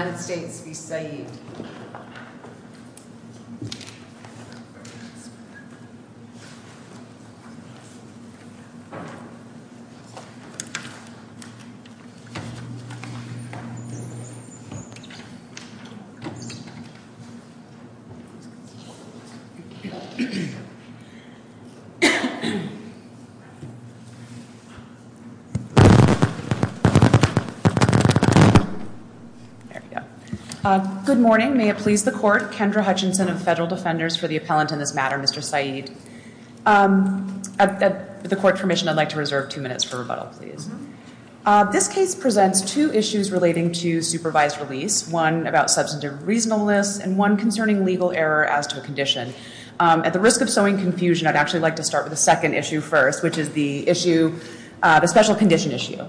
Where are you my friend? Good morning, may it please the court, Kendra Hutchinson of Federal Defenders for the Appellant in this matter, Mr. Saeed. With the court's permission, I'd like to reserve two minutes for rebuttal, please. This case presents two issues relating to supervised release, one about substantive reasonableness, and one concerning legal error as to a condition. At the risk of sowing confusion, I'd actually like to start with the second issue first, which is the issue, the special condition issue.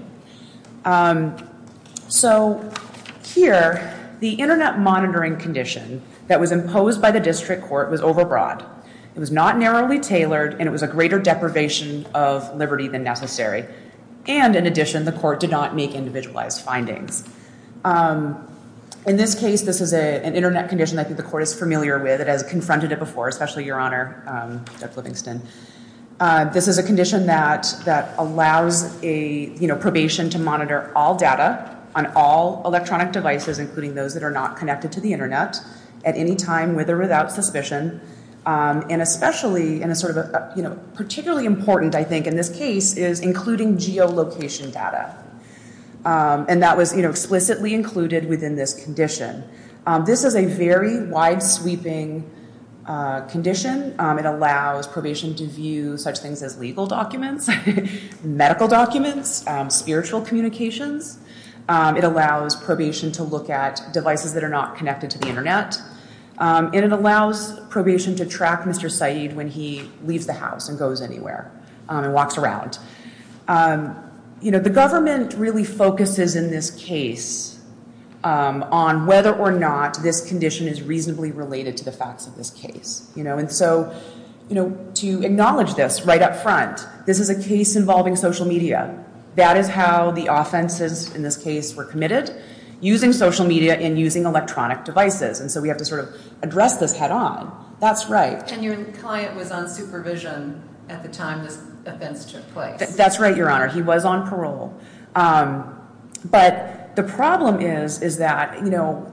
So here, the internet monitoring condition that was imposed by the district court was overbroad. It was not narrowly tailored, and it was a greater deprivation of liberty than necessary. And in addition, the court did not make individualized findings. In this case, this is an internet condition I think the court is familiar with. It has confronted it before, especially your honor, Judge Livingston. This is a condition that allows a probation to monitor all data on all electronic devices, including those that are not connected to the internet at any time, with or without suspicion. And especially, and particularly important, I think, in this case, is including geolocation data. And that was explicitly included within this condition. This is a very wide-sweeping condition. It allows probation to view such things as legal documents, medical documents, spiritual communications. It allows probation to look at devices that are not connected to the internet. And it allows probation to track Mr. Saeed when he leaves the house and goes anywhere and walks around. You know, the government really focuses in this case on whether or not this condition is reasonably related to the facts of this case. You know, and so, you know, to acknowledge this right up front, this is a case involving social media. That is how the offenses in this case were committed, using social media and using electronic devices. And so we have to sort of address this head on. That's right. And your client was on supervision at the time this offense took place. That's right, Your Honor. He was on parole. But the problem is, is that, you know,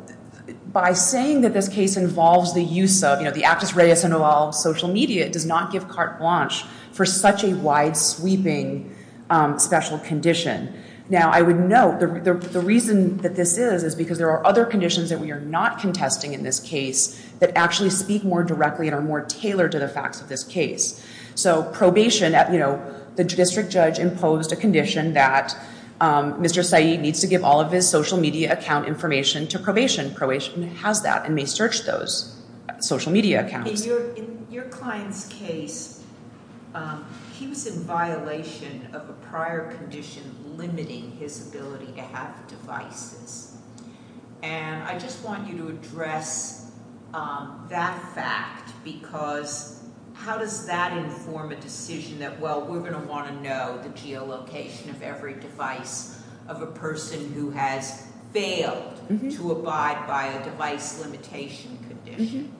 by saying that this case involves the use of, you know, the actus reus involves social media, it does not give carte blanche for such a wide-sweeping special condition. Now I would note, the reason that this is, is because there are other conditions that we are not contesting in this case that actually speak more directly and are more tailored to the facts of this case. So probation, you know, the district judge imposed a condition that Mr. Saeed needs to give all of his social media account information to probation. Probation has that and may search those social media accounts. In your client's case, he was in violation of a prior condition limiting his ability to have devices. And I just want you to address that fact because how does that inform a decision that, well, we're going to want to know the geolocation of every device of a person who has failed to abide by a device limitation condition?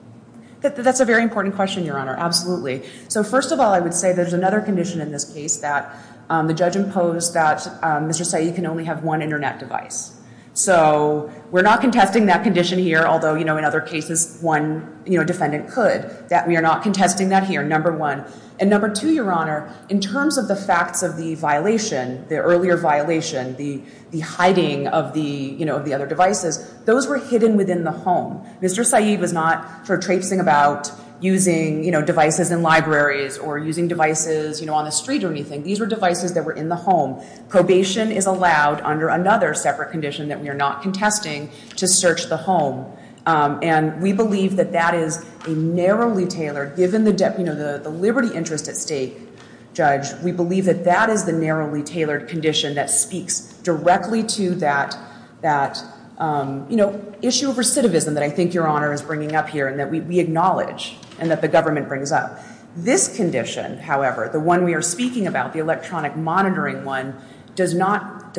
That's a very important question, Your Honor, absolutely. So first of all, I would say there's another condition in this case that the judge imposed that Mr. Saeed can only have one internet device. So we're not contesting that condition here, although, you know, in other cases, one defendant could. We are not contesting that here, number one. And number two, Your Honor, in terms of the facts of the violation, the earlier violation, the hiding of the other devices, those were hidden within the home. Mr. Saeed was not sort of traipsing about using devices in libraries or using devices on the street or anything. These were devices that were in the home. Probation is allowed under another separate condition that we are not contesting to search the home. And we believe that that is a narrowly tailored, given the liberty interest at stake, Judge, we believe that that is the narrowly tailored condition that speaks directly to that issue of recidivism that I think Your Honor is bringing up here and that we acknowledge and that the government brings up. This condition, however, the one we are speaking about, the electronic monitoring one, does not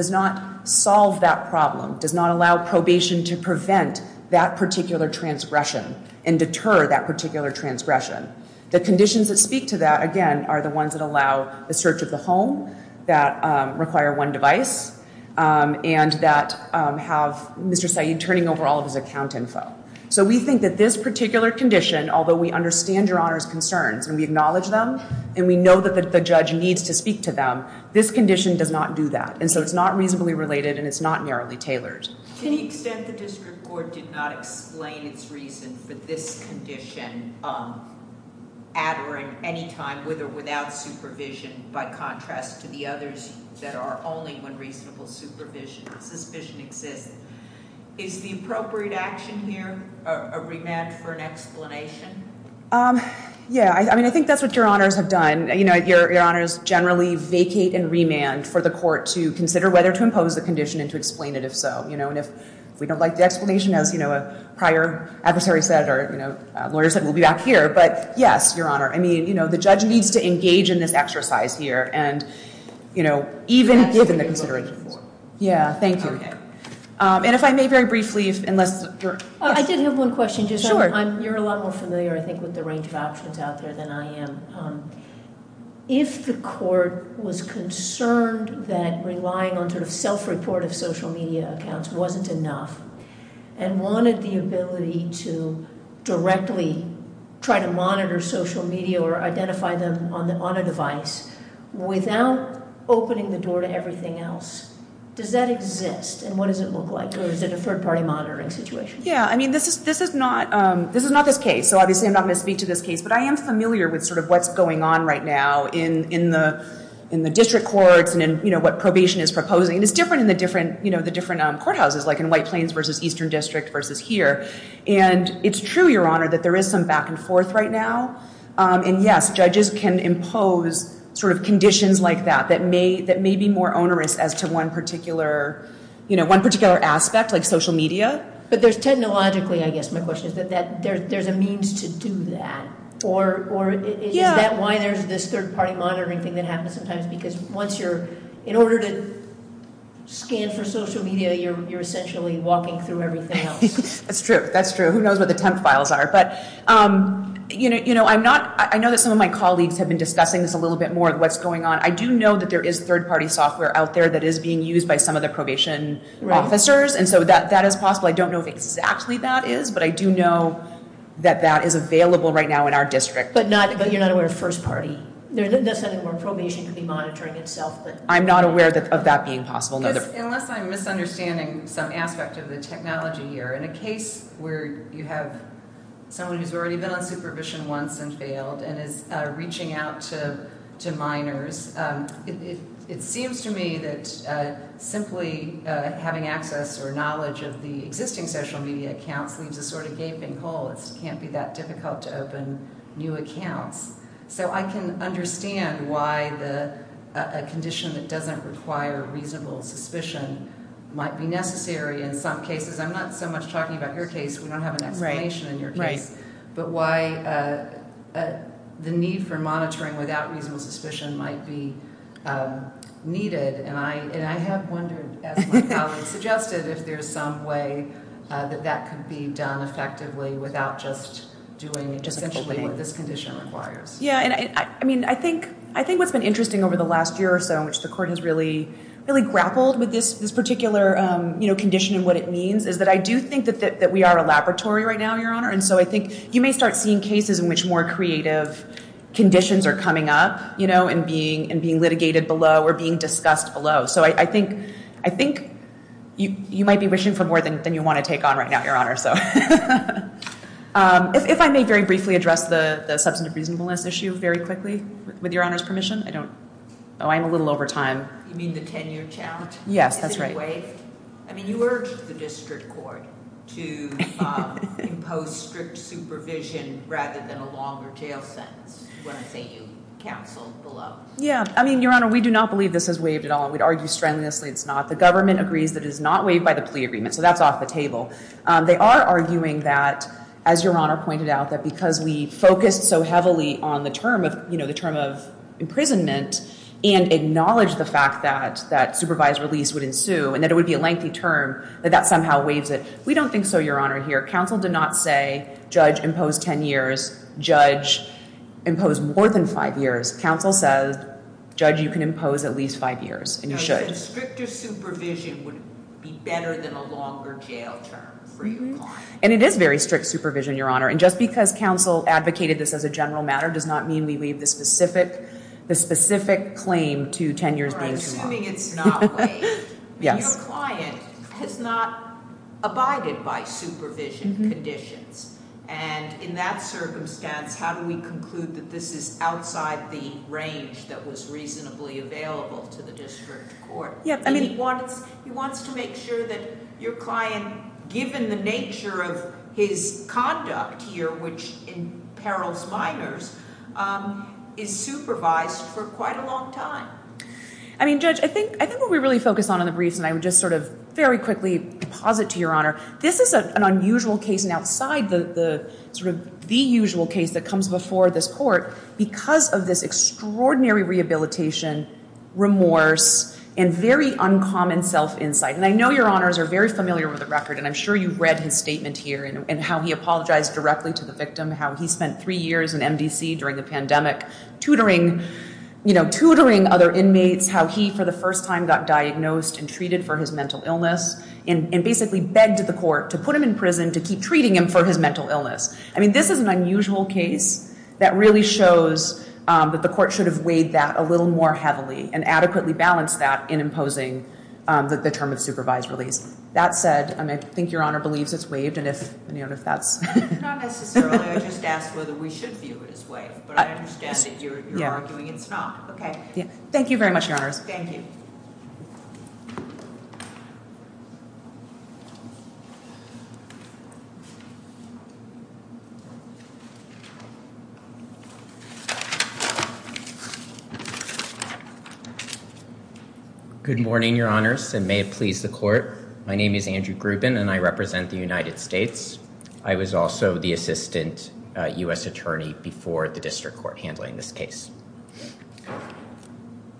solve that problem, does not allow probation to prevent that particular transgression and deter that particular transgression. The conditions that speak to that, again, are the ones that allow the search of the home that require one device and that have Mr. Saeed turning over all of his account info. So we think that this particular condition, although we understand Your Honor's concerns and we acknowledge them and we know that the judge needs to speak to them, this condition does not do that. And so it's not reasonably related and it's not narrowly tailored. To the extent the district court did not explain its reason for this condition at or at any time, with or without supervision, by contrast to the others that are only when reasonable supervision, suspicion exists, is the appropriate action here a remand for an explanation? Yeah, I mean, I think that's what Your Honors have done. Your Honors generally vacate and remand for the court to consider whether to impose the condition and to explain it, if so. And if we don't like the explanation, as a prior adversary said or a lawyer said, we'll be back here. But yes, Your Honor, I mean, the judge needs to engage in this exercise here and even given the considerations. Yeah, thank you. Okay. And if I may very briefly, unless you're... I did have one question. Sure. You're a lot more familiar, I think, with the range of options out there than I am. If the court was concerned that relying on sort of self-report of social media accounts wasn't enough and wanted the ability to directly try to monitor social media or identify them on a device without opening the door to everything else, does that exist and what does it look like? Or is it a third-party monitoring situation? Yeah. I mean, this is not this case. So obviously, I'm not going to speak to this case. But I am familiar with sort of what's going on right now in the district courts and what probation is proposing. And it's different in the different courthouses, like in White Plains versus Eastern District versus here. And it's true, Your Honor, that there is some back and forth right now. And yes, judges can impose sort of conditions like that that may be more onerous as to one particular aspect, like social media. But there's technologically, I guess my question is, that there's a means to do that. Or is that why there's this third-party monitoring thing that happens sometimes? Because once you're... In order to scan for social media, you're essentially walking through everything else. That's true. That's true. Who knows what the temp files are? But I know that some of my colleagues have been discussing this a little bit more, what's going on. I do know that there is third-party software out there that is being used by some of the probation officers. And so that is possible. I don't know if exactly that is, but I do know that that is available right now in our district. But you're not aware of first-party? That's something where probation could be monitoring itself, but... I'm not aware of that being possible. Because unless I'm misunderstanding some aspect of the technology here, in a case where you have someone who's already been on supervision once and failed, and is reaching out to minors, it seems to me that simply having access or knowledge of the existing social media accounts leaves a sort of gaping hole. It can't be that difficult to open new accounts. So I can understand why a condition that doesn't require reasonable suspicion might be necessary in some cases. I'm not so much talking about your case, we don't have an explanation in your case, but why the need for monitoring without reasonable suspicion might be needed. And I have wondered, as my colleague suggested, if there's some way that that could be done effectively without just doing essentially what this condition requires. Yeah, and I think what's been interesting over the last year or so, in which the court has really grappled with this particular condition and what it means, is that I do think that we are a laboratory right now, Your Honor. And so I think you may start seeing cases in which more creative conditions are coming up and being litigated below or being discussed below. So I think you might be wishing for more than you want to take on right now, Your Honor. If I may very briefly address the substantive reasonableness issue very quickly, with Your Honor's permission. Oh, I'm a little over time. You mean the 10-year challenge? Yes, that's right. Is it waived? I mean, you urged the district court to impose strict supervision rather than a longer jail sentence, when I say you counseled below. Yeah. I mean, Your Honor, we do not believe this has waived at all, and we'd argue strenuously it's not. The government agrees that it is not waived by the plea agreement, so that's off the table. They are arguing that, as Your Honor pointed out, that because we focused so heavily on the term of imprisonment and acknowledged the fact that supervised release would ensue and that it would be a lengthy term, that that somehow waives it. We don't think so, Your Honor, here. Counsel did not say, judge, impose 10 years, judge, impose more than five years. Counsel says, judge, you can impose at least five years, and you should. No, you said stricter supervision would be better than a longer jail term for you. And it is very strict supervision, Your Honor, and just because counsel advocated this as a general matter does not mean we leave the specific claim to 10 years, judge, or more. Your Honor, I'm assuming it's not waived. Yes. I mean, your client has not abided by supervision conditions, and in that circumstance, how do we conclude that this is outside the range that was reasonably available to the district court? Yeah, I mean— He wants to make sure that your client, given the nature of his conduct here, which imperils minors, is supervised for quite a long time. I mean, judge, I think what we really focus on in the briefs, and I would just sort of very quickly deposit to Your Honor, this is an unusual case and outside the sort of the usual case that comes before this court because of this extraordinary rehabilitation, remorse, and very uncommon self-insight. And I know Your Honors are very familiar with the record, and I'm sure you've read his statement here and how he apologized directly to the victim, how he spent three years in MDC during the pandemic tutoring other inmates, how he, for the first time, got diagnosed and treated for his mental illness, and basically begged the court to put him in prison to keep treating him for his mental illness. I mean, this is an unusual case that really shows that the court should have weighed that a little more heavily and adequately balanced that in imposing the term of supervised release. That said, I think Your Honor believes it's waived, and if that's... Not necessarily. I just asked whether we should view it as waived, but I understand that you're arguing it's not. Okay. Thank you very much, Your Honors. Thank you. Good morning, Your Honors, and may it please the court. My name is Andrew Grubin, and I represent the United States. I was also the assistant U.S. attorney before the district court handling this case.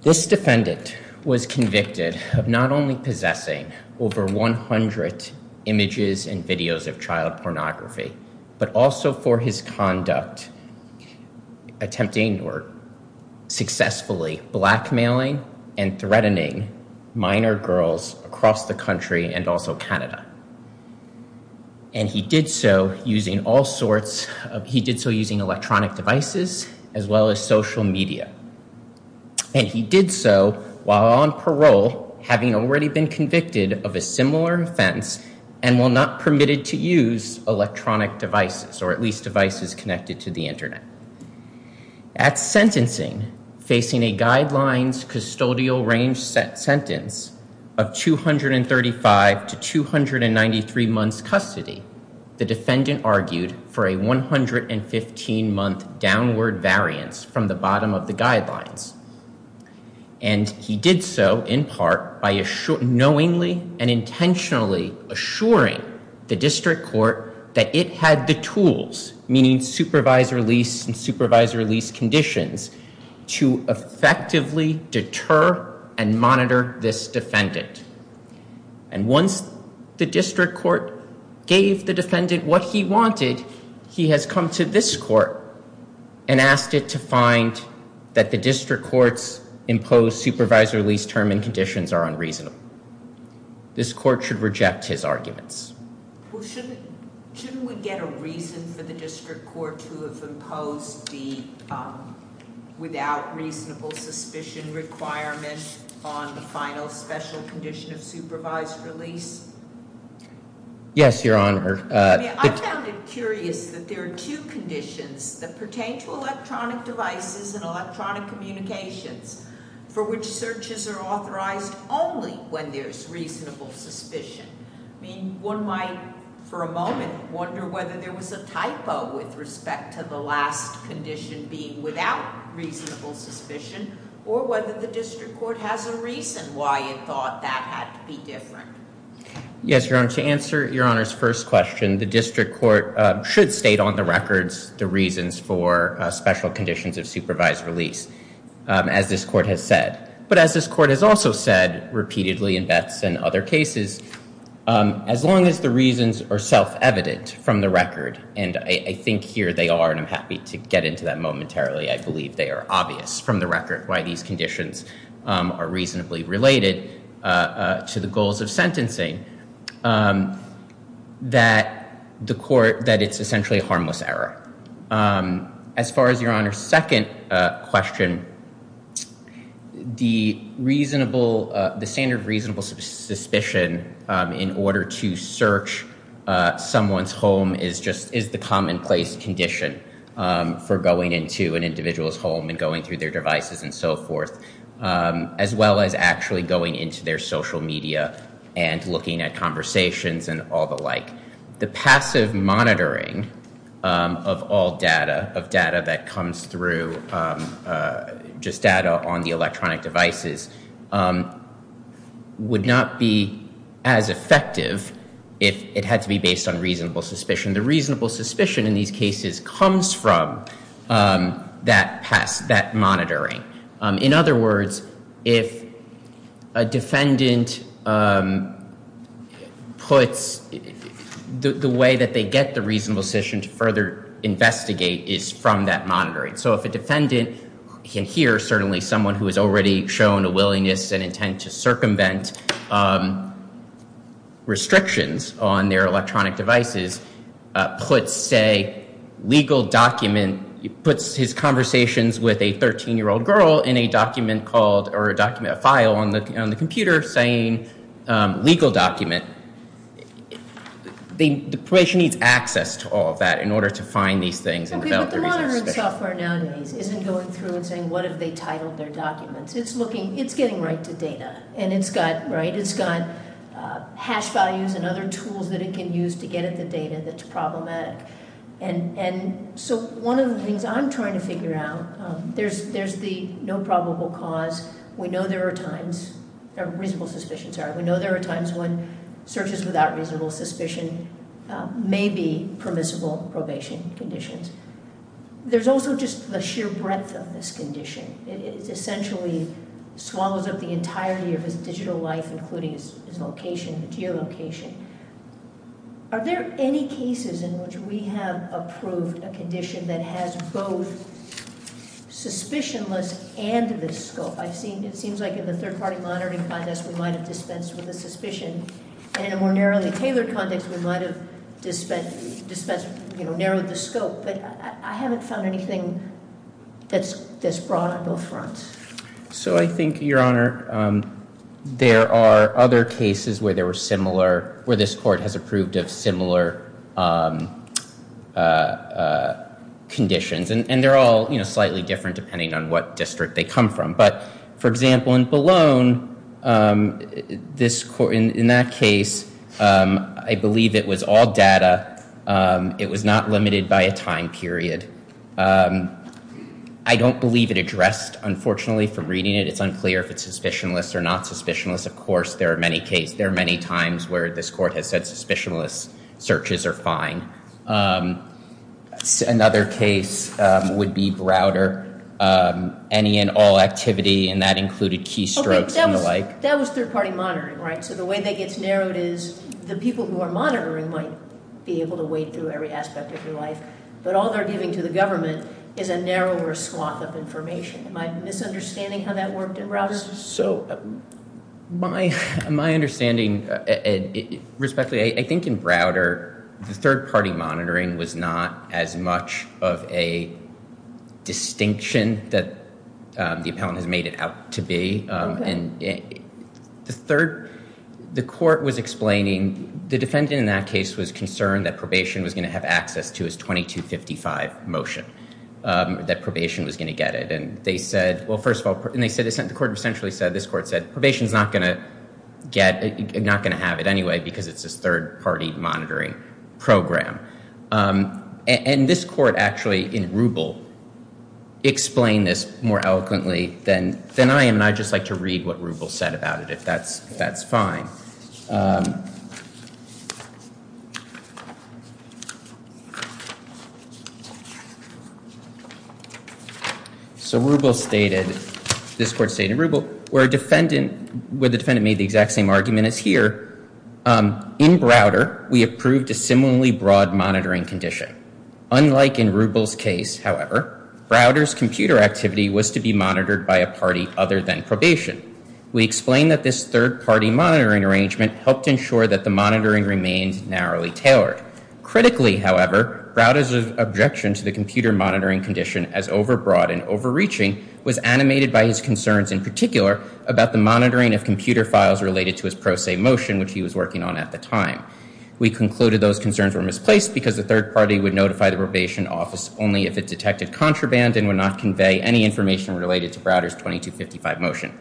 This defendant was convicted of not only possessing over 100 images and videos of child pornography, but also for his conduct, attempting or successfully blackmailing and threatening minor girls across the country and also Canada. And he did so using all sorts of... He did so using electronic devices as well as social media. And he did so while on parole, having already been convicted of a similar offense and while not permitted to use electronic devices or at least devices connected to the internet. At sentencing, facing a guidelines custodial range sentence of 235 to 293 months custody, the defendant argued for a 115 month downward variance from the bottom of the guidelines. And he did so in part by knowingly and intentionally assuring the district court that it had the rights and supervisory lease conditions to effectively deter and monitor this defendant. And once the district court gave the defendant what he wanted, he has come to this court and asked it to find that the district court's imposed supervisory lease term and conditions are unreasonable. This court should reject his arguments. Well, shouldn't we get a reason for the district court to have imposed the without reasonable suspicion requirement on the final special condition of supervised release? Yes, Your Honor. I mean, I found it curious that there are two conditions that pertain to electronic devices and electronic communications for which searches are authorized only when there's reasonable suspicion. I mean, one might, for a moment, wonder whether there was a typo with respect to the last condition being without reasonable suspicion or whether the district court has a reason why it thought that had to be different. Yes, Your Honor. To answer Your Honor's first question, the district court should state on the records the reasons for special conditions of supervised release, as this court has said. But as this court has also said repeatedly in Betts and other cases, as long as the reasons are self-evident from the record, and I think here they are and I'm happy to get into that momentarily, I believe they are obvious from the record why these conditions are reasonably related to the goals of sentencing, that it's essentially a harmless error. As far as Your Honor's second question, the standard reasonable suspicion in order to search someone's home is the commonplace condition for going into an individual's home and going through their devices and so forth, as well as actually going into their social media and looking at conversations and all the like. The passive monitoring of all data, of data that comes through, just data on the electronic devices, would not be as effective if it had to be based on reasonable suspicion. The reasonable suspicion in these cases comes from that monitoring. In other words, if a defendant puts, the way that they get the reasonable suspicion to further investigate is from that monitoring. So if a defendant, here certainly someone who has already shown a willingness and intent to circumvent restrictions on their electronic devices, puts a legal document, puts his conversations with a 13-year-old girl in a document called, or a document, a file on the computer saying legal document, the person needs access to all of that in order to find these things and develop the reasonable suspicion. But the monitoring software nowadays isn't going through and saying what if they titled their documents. It's looking, it's getting right to data. And it's got, right, it's got hash values and other tools that it can use to get at the data that's problematic. And so one of the things I'm trying to figure out, there's the no probable cause. We know there are times, or reasonable suspicion, sorry. We know there are times when searches without reasonable suspicion may be permissible probation conditions. There's also just the sheer breadth of this condition. It essentially swallows up the entirety of his digital life, including his location, the geolocation. Are there any cases in which we have approved a condition that has both suspicionless and this scope? I've seen, it seems like in the third party monitoring context we might have dispensed with the suspicion. And in a more narrowly tailored context we might have dispensed, you know, narrowed the scope. But I haven't found anything that's broad on both fronts. So I think, Your Honor, there are other cases where there were similar, where this court has approved of similar conditions. And they're all, you know, slightly different depending on what district they come from. But, for example, in Ballone, this court, in that case, I believe it was all data. It was not limited by a time period. I don't believe it addressed, unfortunately, from reading it. It's unclear if it's suspicionless or not suspicionless. Of course, there are many cases, there are many times where this court has said suspicionless searches are fine. Another case would be Browder. Any and all activity, and that included key strokes and the like. That was third party monitoring, right? So the way that gets narrowed is the people who are monitoring might be able to wade through every aspect of your life. But all they're giving to the government is a narrower swath of information. Am I misunderstanding how that worked in Browder? My understanding, respectfully, I think in Browder, the third party monitoring was not as much of a distinction that the appellant has made it out to be. The court was explaining, the defendant in that case was concerned that it was a 2255 motion, that probation was going to get it. And they said, well, first of all, the court essentially said, this court said, probation's not going to get, not going to have it anyway because it's a third party monitoring program. And this court actually, in Rubel, explained this more eloquently than I am. And I'd just like to read what Rubel said about it, if that's fine. So Rubel stated, this court stated Rubel, where the defendant made the exact same argument as here. In Browder, we approved a similarly broad monitoring condition. Unlike in Rubel's case, however, Browder's computer activity was to be monitored by a party other than probation. We explained that this third party monitoring arrangement helped ensure that the monitoring remained narrowly tailored. Critically, however, Browder's objection to the computer monitoring condition as overbroad and overreaching was animated by his concerns, in particular, about the monitoring of computer files related to his pro se motion, which he was working on at the time. We concluded those concerns were misplaced because the third party would notify the probation office only if it detected contraband and would not convey any information related to Browder's 2255 motion.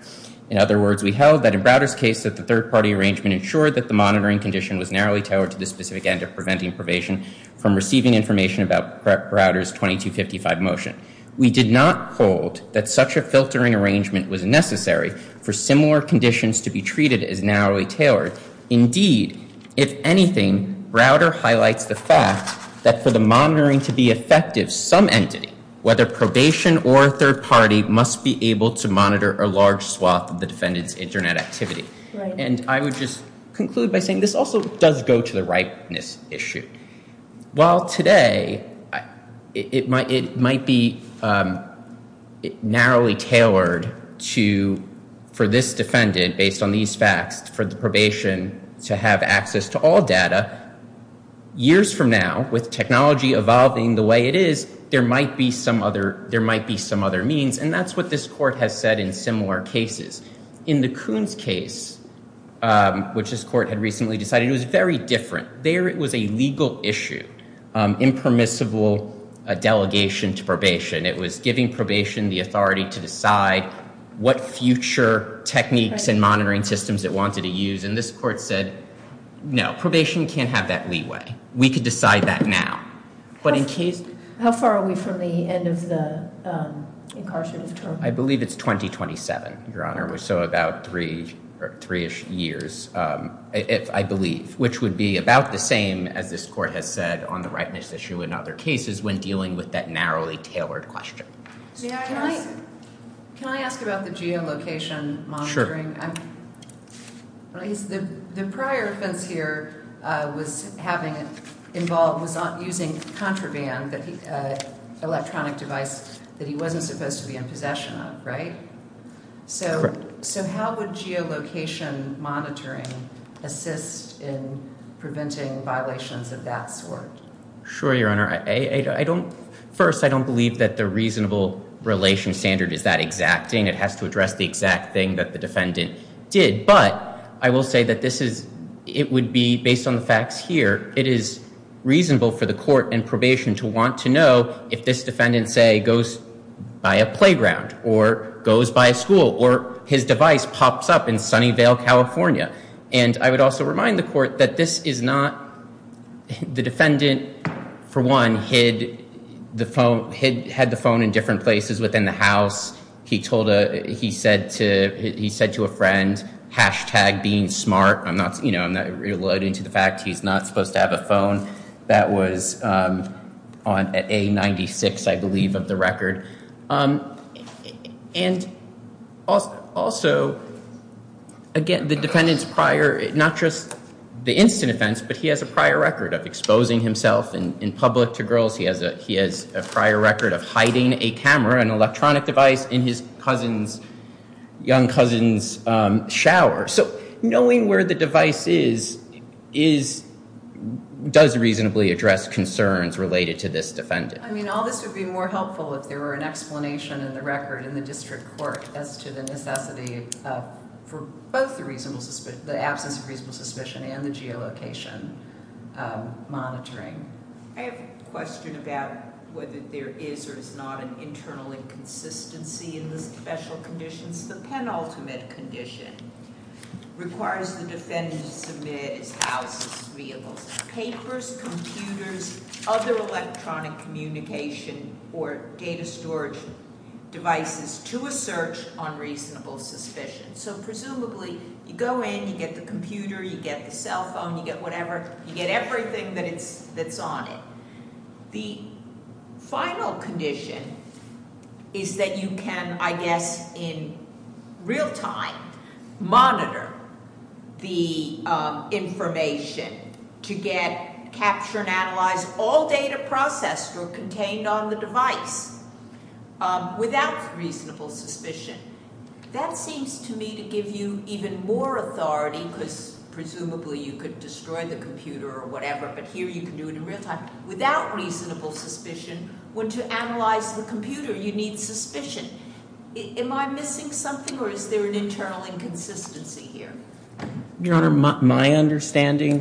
In other words, we held that in Browder's case, that the third party arrangement ensured that the monitoring condition was narrowly tailored to the specific end of preventing probation from receiving information about Browder's 2255 motion. We did not hold that such a filtering arrangement was necessary for similar conditions to be treated as narrowly tailored. Indeed, if anything, Browder highlights the fact that for the monitoring to be effective, some entity, whether probation or a third party, must be able to monitor a large swath of the defendant's internet activity. And I would just conclude by saying this also does go to the ripeness issue. While today it might be narrowly tailored for this defendant, based on these facts, for the probation to have access to all data, years from now, with technology evolving the way it is, there might be some other means. And that's what this court has said in similar cases. In the Coons case, which this court had recently decided, it was very different. There it was a legal issue. Impermissible delegation to probation. It was giving probation the authority to decide what future techniques and monitoring systems it wanted to use. And this court said, no, probation can't have that leeway. We can decide that now. How far are we from the end of the incarcerative term? I believe it's 2027, Your Honor. So about three-ish years, I believe. Which would be about the same, as this court has said, on the ripeness issue in other cases when dealing with that narrowly tailored question. Can I ask about the geolocation monitoring? Sure. The prior offense here was using contraband, electronic device, that he wasn't supposed to be in possession of, right? Correct. So how would geolocation monitoring assist in preventing violations of that sort? Sure, Your Honor. First, I don't believe that the reasonable relation standard is that exact thing. It has to address the exact thing that the defendant did. But I will say that it would be, based on the facts here, it is reasonable for the court and probation to want to know if this defendant, say, goes by a playground, or goes by a school, or his device pops up in Sunnyvale, California. And I would also remind the court that this is not... The defendant, for one, had the phone in different places within the house. He said to a friend, hashtag being smart. I'm not reloading to the fact he's not supposed to have a phone. That was on A96, I believe, of the record. And also, again, the defendant's prior... Not just the instant offense, but he has a prior record of exposing himself in public to girls. He has a prior record of hiding a camera, an electronic device, in his cousin's... shower. So knowing where the device is does reasonably address concerns related to this defendant. I mean, all this would be more helpful if there were an explanation in the record in the district court as to the necessity for both the absence of reasonable suspicion and the geolocation monitoring. I have a question about whether there is or is not an internal inconsistency in the special conditions. The penultimate condition requires the defendant to submit his house, his vehicles, papers, computers, other electronic communication or data storage devices to a search on reasonable suspicion. So presumably, you go in, you get the computer, you get the cell phone, you get whatever, you get everything that's on it. The final condition is that you can, I guess, in real time, monitor the information to get, capture and analyze all data processed or contained on the device without reasonable suspicion. That seems to me to give you even more authority because presumably you could destroy the computer or whatever, but here you can do it in real time without reasonable suspicion when to analyze the computer you need suspicion. Am I missing something or is there an internal inconsistency here? Your Honor, my understanding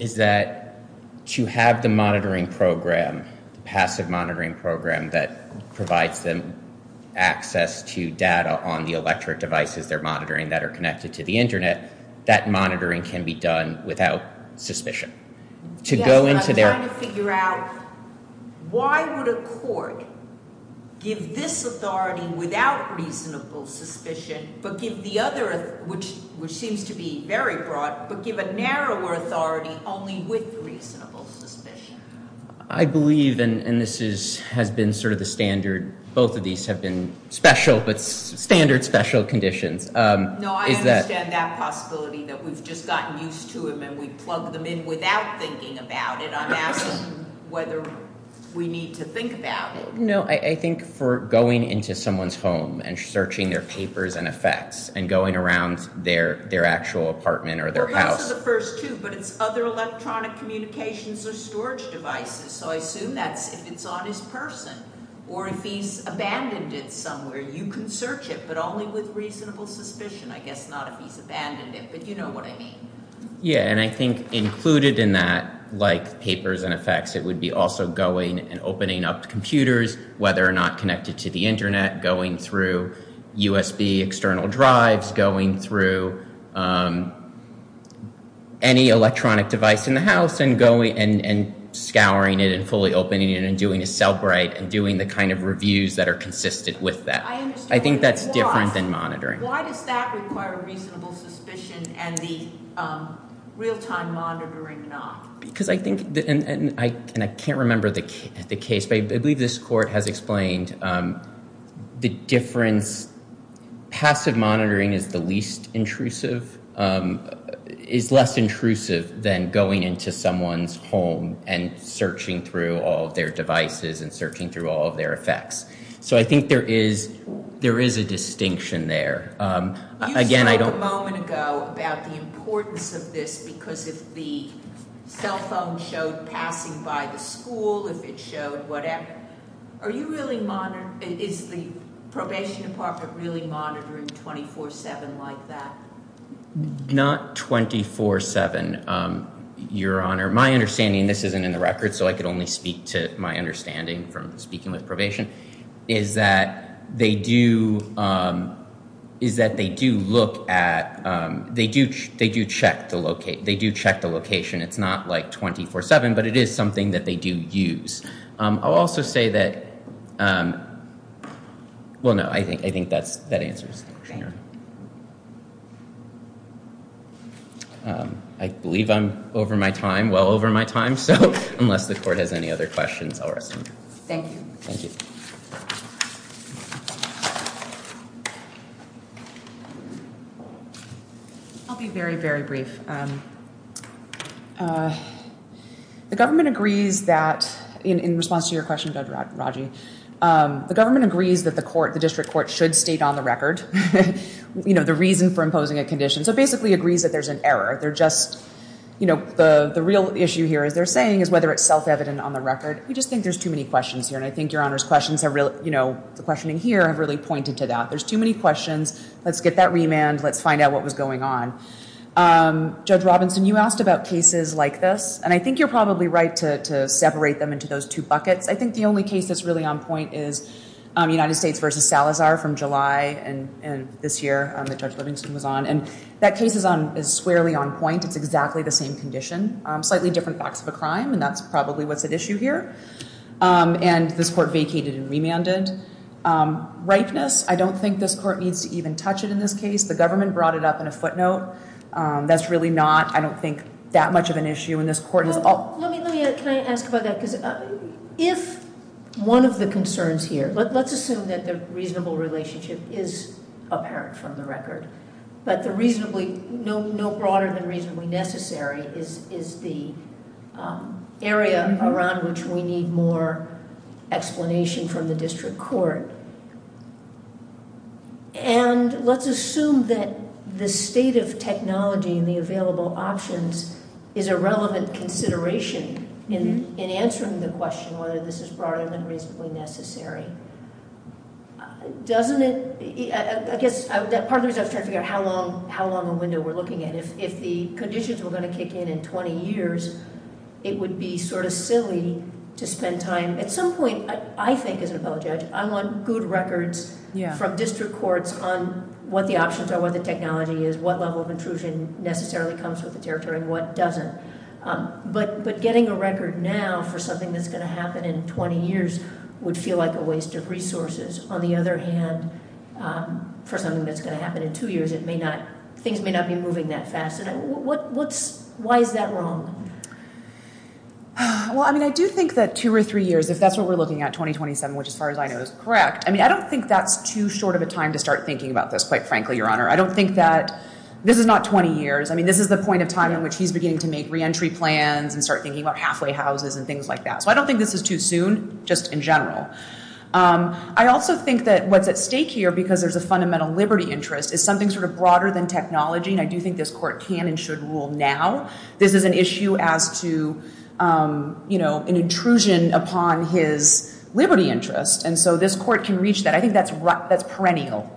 is that to have the monitoring program, the passive monitoring program that provides them access to data on the electric devices they're monitoring that are connected to the internet, that monitoring can be done without suspicion. Yes, I'm trying to figure out why would a court give this authority without reasonable suspicion but give the other, which seems to be very broad, but give a narrower authority only with reasonable suspicion? I believe, and this has been sort of the standard, both of these have been standard special conditions. No, I understand that possibility that we've just gotten used to them and we plug them in without thinking about it. I'm asking whether we need to think about it. I think for going into someone's home and searching their papers and effects and going around their actual apartment or their house. But it's other electronic communications or storage devices so I assume that's if it's on his person or if he's abandoned it somewhere you can search it but only with reasonable suspicion. I guess not if he's abandoned it but you know what I mean. Yeah, and I think included in that, like papers and effects, it would be also going and opening up computers, whether or not connected to the internet, going through USB external drives, going through any electronic device in the house and scouring it and fully opening it and doing a cellbrite and doing the kind of Why does that require reasonable suspicion and the real-time monitoring not? Because I think, and I can't remember the case, but I believe this court has explained the difference passive monitoring is the least intrusive is less intrusive than going into someone's home and searching through all of their devices and searching through all of their effects. So I think there is a distinction there. You spoke a moment ago about the importance of this because if the cell phone showed passing by the school if it showed whatever, are you really is the probation department really monitoring 24-7 like that? Not 24-7, Your Honor. My understanding, this isn't in the record so I can only speak to my understanding from speaking with probation is that they do is that they do look at they do check the location it's not like 24-7 but it is something that they do use. I'll also say that well no, I think that answers the question. I believe I'm over my time I'm well over my time so unless the court has any other questions I'll rest. Thank you. I'll be very, very brief. The government agrees that in response to your question Judge Raggi the government agrees that the district court should state on the record the reason for imposing a condition so basically agrees that there's an error they're just, the real issue here as they're saying is whether it's self-evident on the record. We just think there's too many questions here and I think Your Honor's questions have really pointed to that. There's too many questions let's get that remand, let's find out what was going on. Judge Robinson, you asked about cases like this and I think you're probably right to separate them into those two buckets I think the only case that's really on point is United States v. Salazar from July and this year that Judge Livingston was on that case is squarely on point, it's exactly the same condition slightly different facts of a crime and that's probably what's at issue here and this court vacated and remanded ripeness, I don't think this court needs to even touch it in this case. The government brought it up in a footnote that's really not, I don't think that much of an issue in this court. Let me ask about that if one of the concerns here let's assume that the reasonable relationship is apparent from the record but the reasonably no broader than reasonably necessary is the area around which we need more explanation from the district court and let's assume that the state of technology and the available options is a relevant consideration in answering the question whether this is broader than reasonably necessary doesn't it, I guess part of the reason I was trying to figure out how long a window we're looking at if the conditions were going to kick in in 20 years it would be sort of silly to spend time at some point, I think as an appellate judge, I'm on good records from district courts on what the options are, what the technology is, what level of intrusion necessarily comes with the territory and what doesn't but getting a record now for something that's going to happen in 20 years would feel like a waste of resources. On the other hand for something that's going to happen in two years things may not be moving that fast. Why is that wrong? Well I mean I do think that two or three years, if that's what we're looking at 2027 which as far as I know is correct, I mean I don't think that's too short of a time to start thinking about this quite frankly Your Honor. I don't think that this is not 20 years, I mean this is the point of time in which he's beginning to make re-entry plans and start thinking about halfway houses and things like that. So I don't think this is too soon, just in general. I also think that what's at stake here because there's a fundamental liberty interest is something sort of broader than technology and I do think this court can and should rule now this is an issue as to an intrusion upon his liberty interest and so this court can reach that. I think that's perennial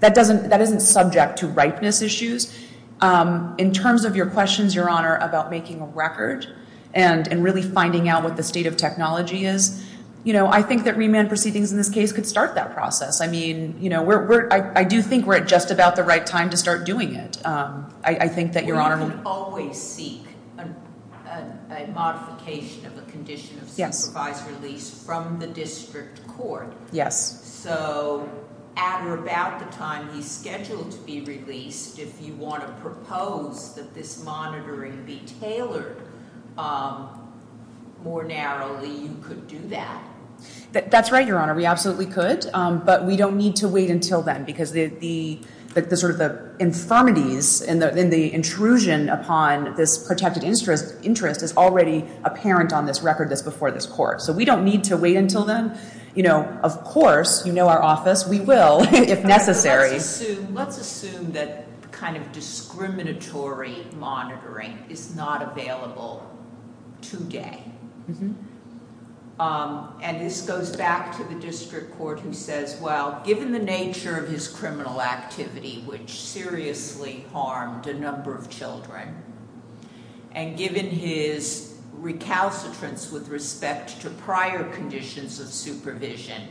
that isn't subject to ripeness issues in terms of your questions Your Honor about making a record and really finding out what the state of technology is, you know I think that remand proceedings in this case could start that process. I mean I do think we're at just about the right time to start doing it I think that Your Honor. We can always seek a modification of a condition of supervised release from the district court So at or about the time he's scheduled to be released, if you want to propose that this monitoring be tailored more narrowly you could do that. That's right Your Honor, we absolutely could but we don't need to wait until then because the infirmities and the intrusion upon this protected interest is already apparent on this record that's before this court so we don't need to wait until then. You know, of course you know our office, we will if necessary Let's assume that kind of discriminatory monitoring is not available today and this goes back to the district court who says well given the nature of his criminal activity which seriously harmed a number of children and given his recalcitrance with respect to prior conditions of supervision,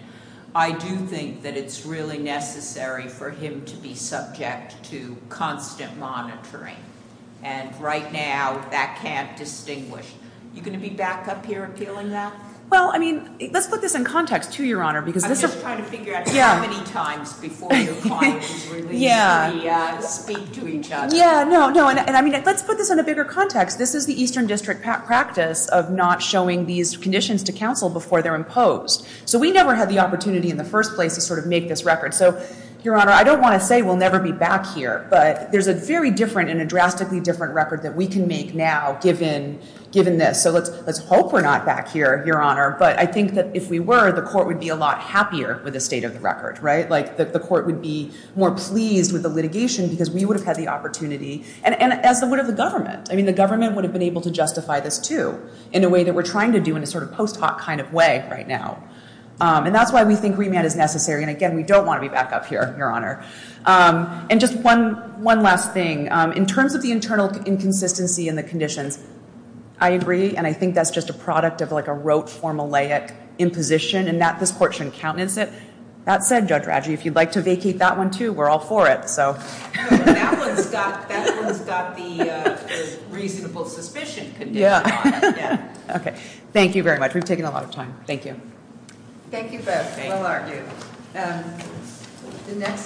I do think that it's really necessary for him to be subject to constant monitoring and right now that can't distinguish You going to be back up here appealing that? Well, I mean let's put this in context too, Your Honor. I'm just trying to figure out how many times before your client is released to speak to each other. Yeah, no, and I mean let's put this in a bigger context. This is the Eastern District practice of not showing these conditions to counsel before they're imposed. So we never had the opportunity in the first place to sort of make this record. So, Your Honor, I don't want to say we'll never be back here, but there's a very different and a drastically different record that we can make now given this so let's hope we're not back here, Your Honor, but I think that if we were, the court would be a lot happier with the state of the record right? Like the court would be more pleased with the government. I mean the government would have been able to justify this too in a way that we're trying to do in a sort of post hoc kind of way right now. And that's why we think remand is necessary and again we don't want to be back up here, Your Honor. And just one last thing. In terms of the internal inconsistency in the conditions, I agree and I think that's just a product of like a rote, formulaic imposition and that this court shouldn't countenance it. That said Judge Radji, if you'd like to vacate that one too, we're all for it. That one's got the reasonable suspicion condition on it. Thank you very much. We've taken a lot of time. Thank you. Thank you both. Well argued.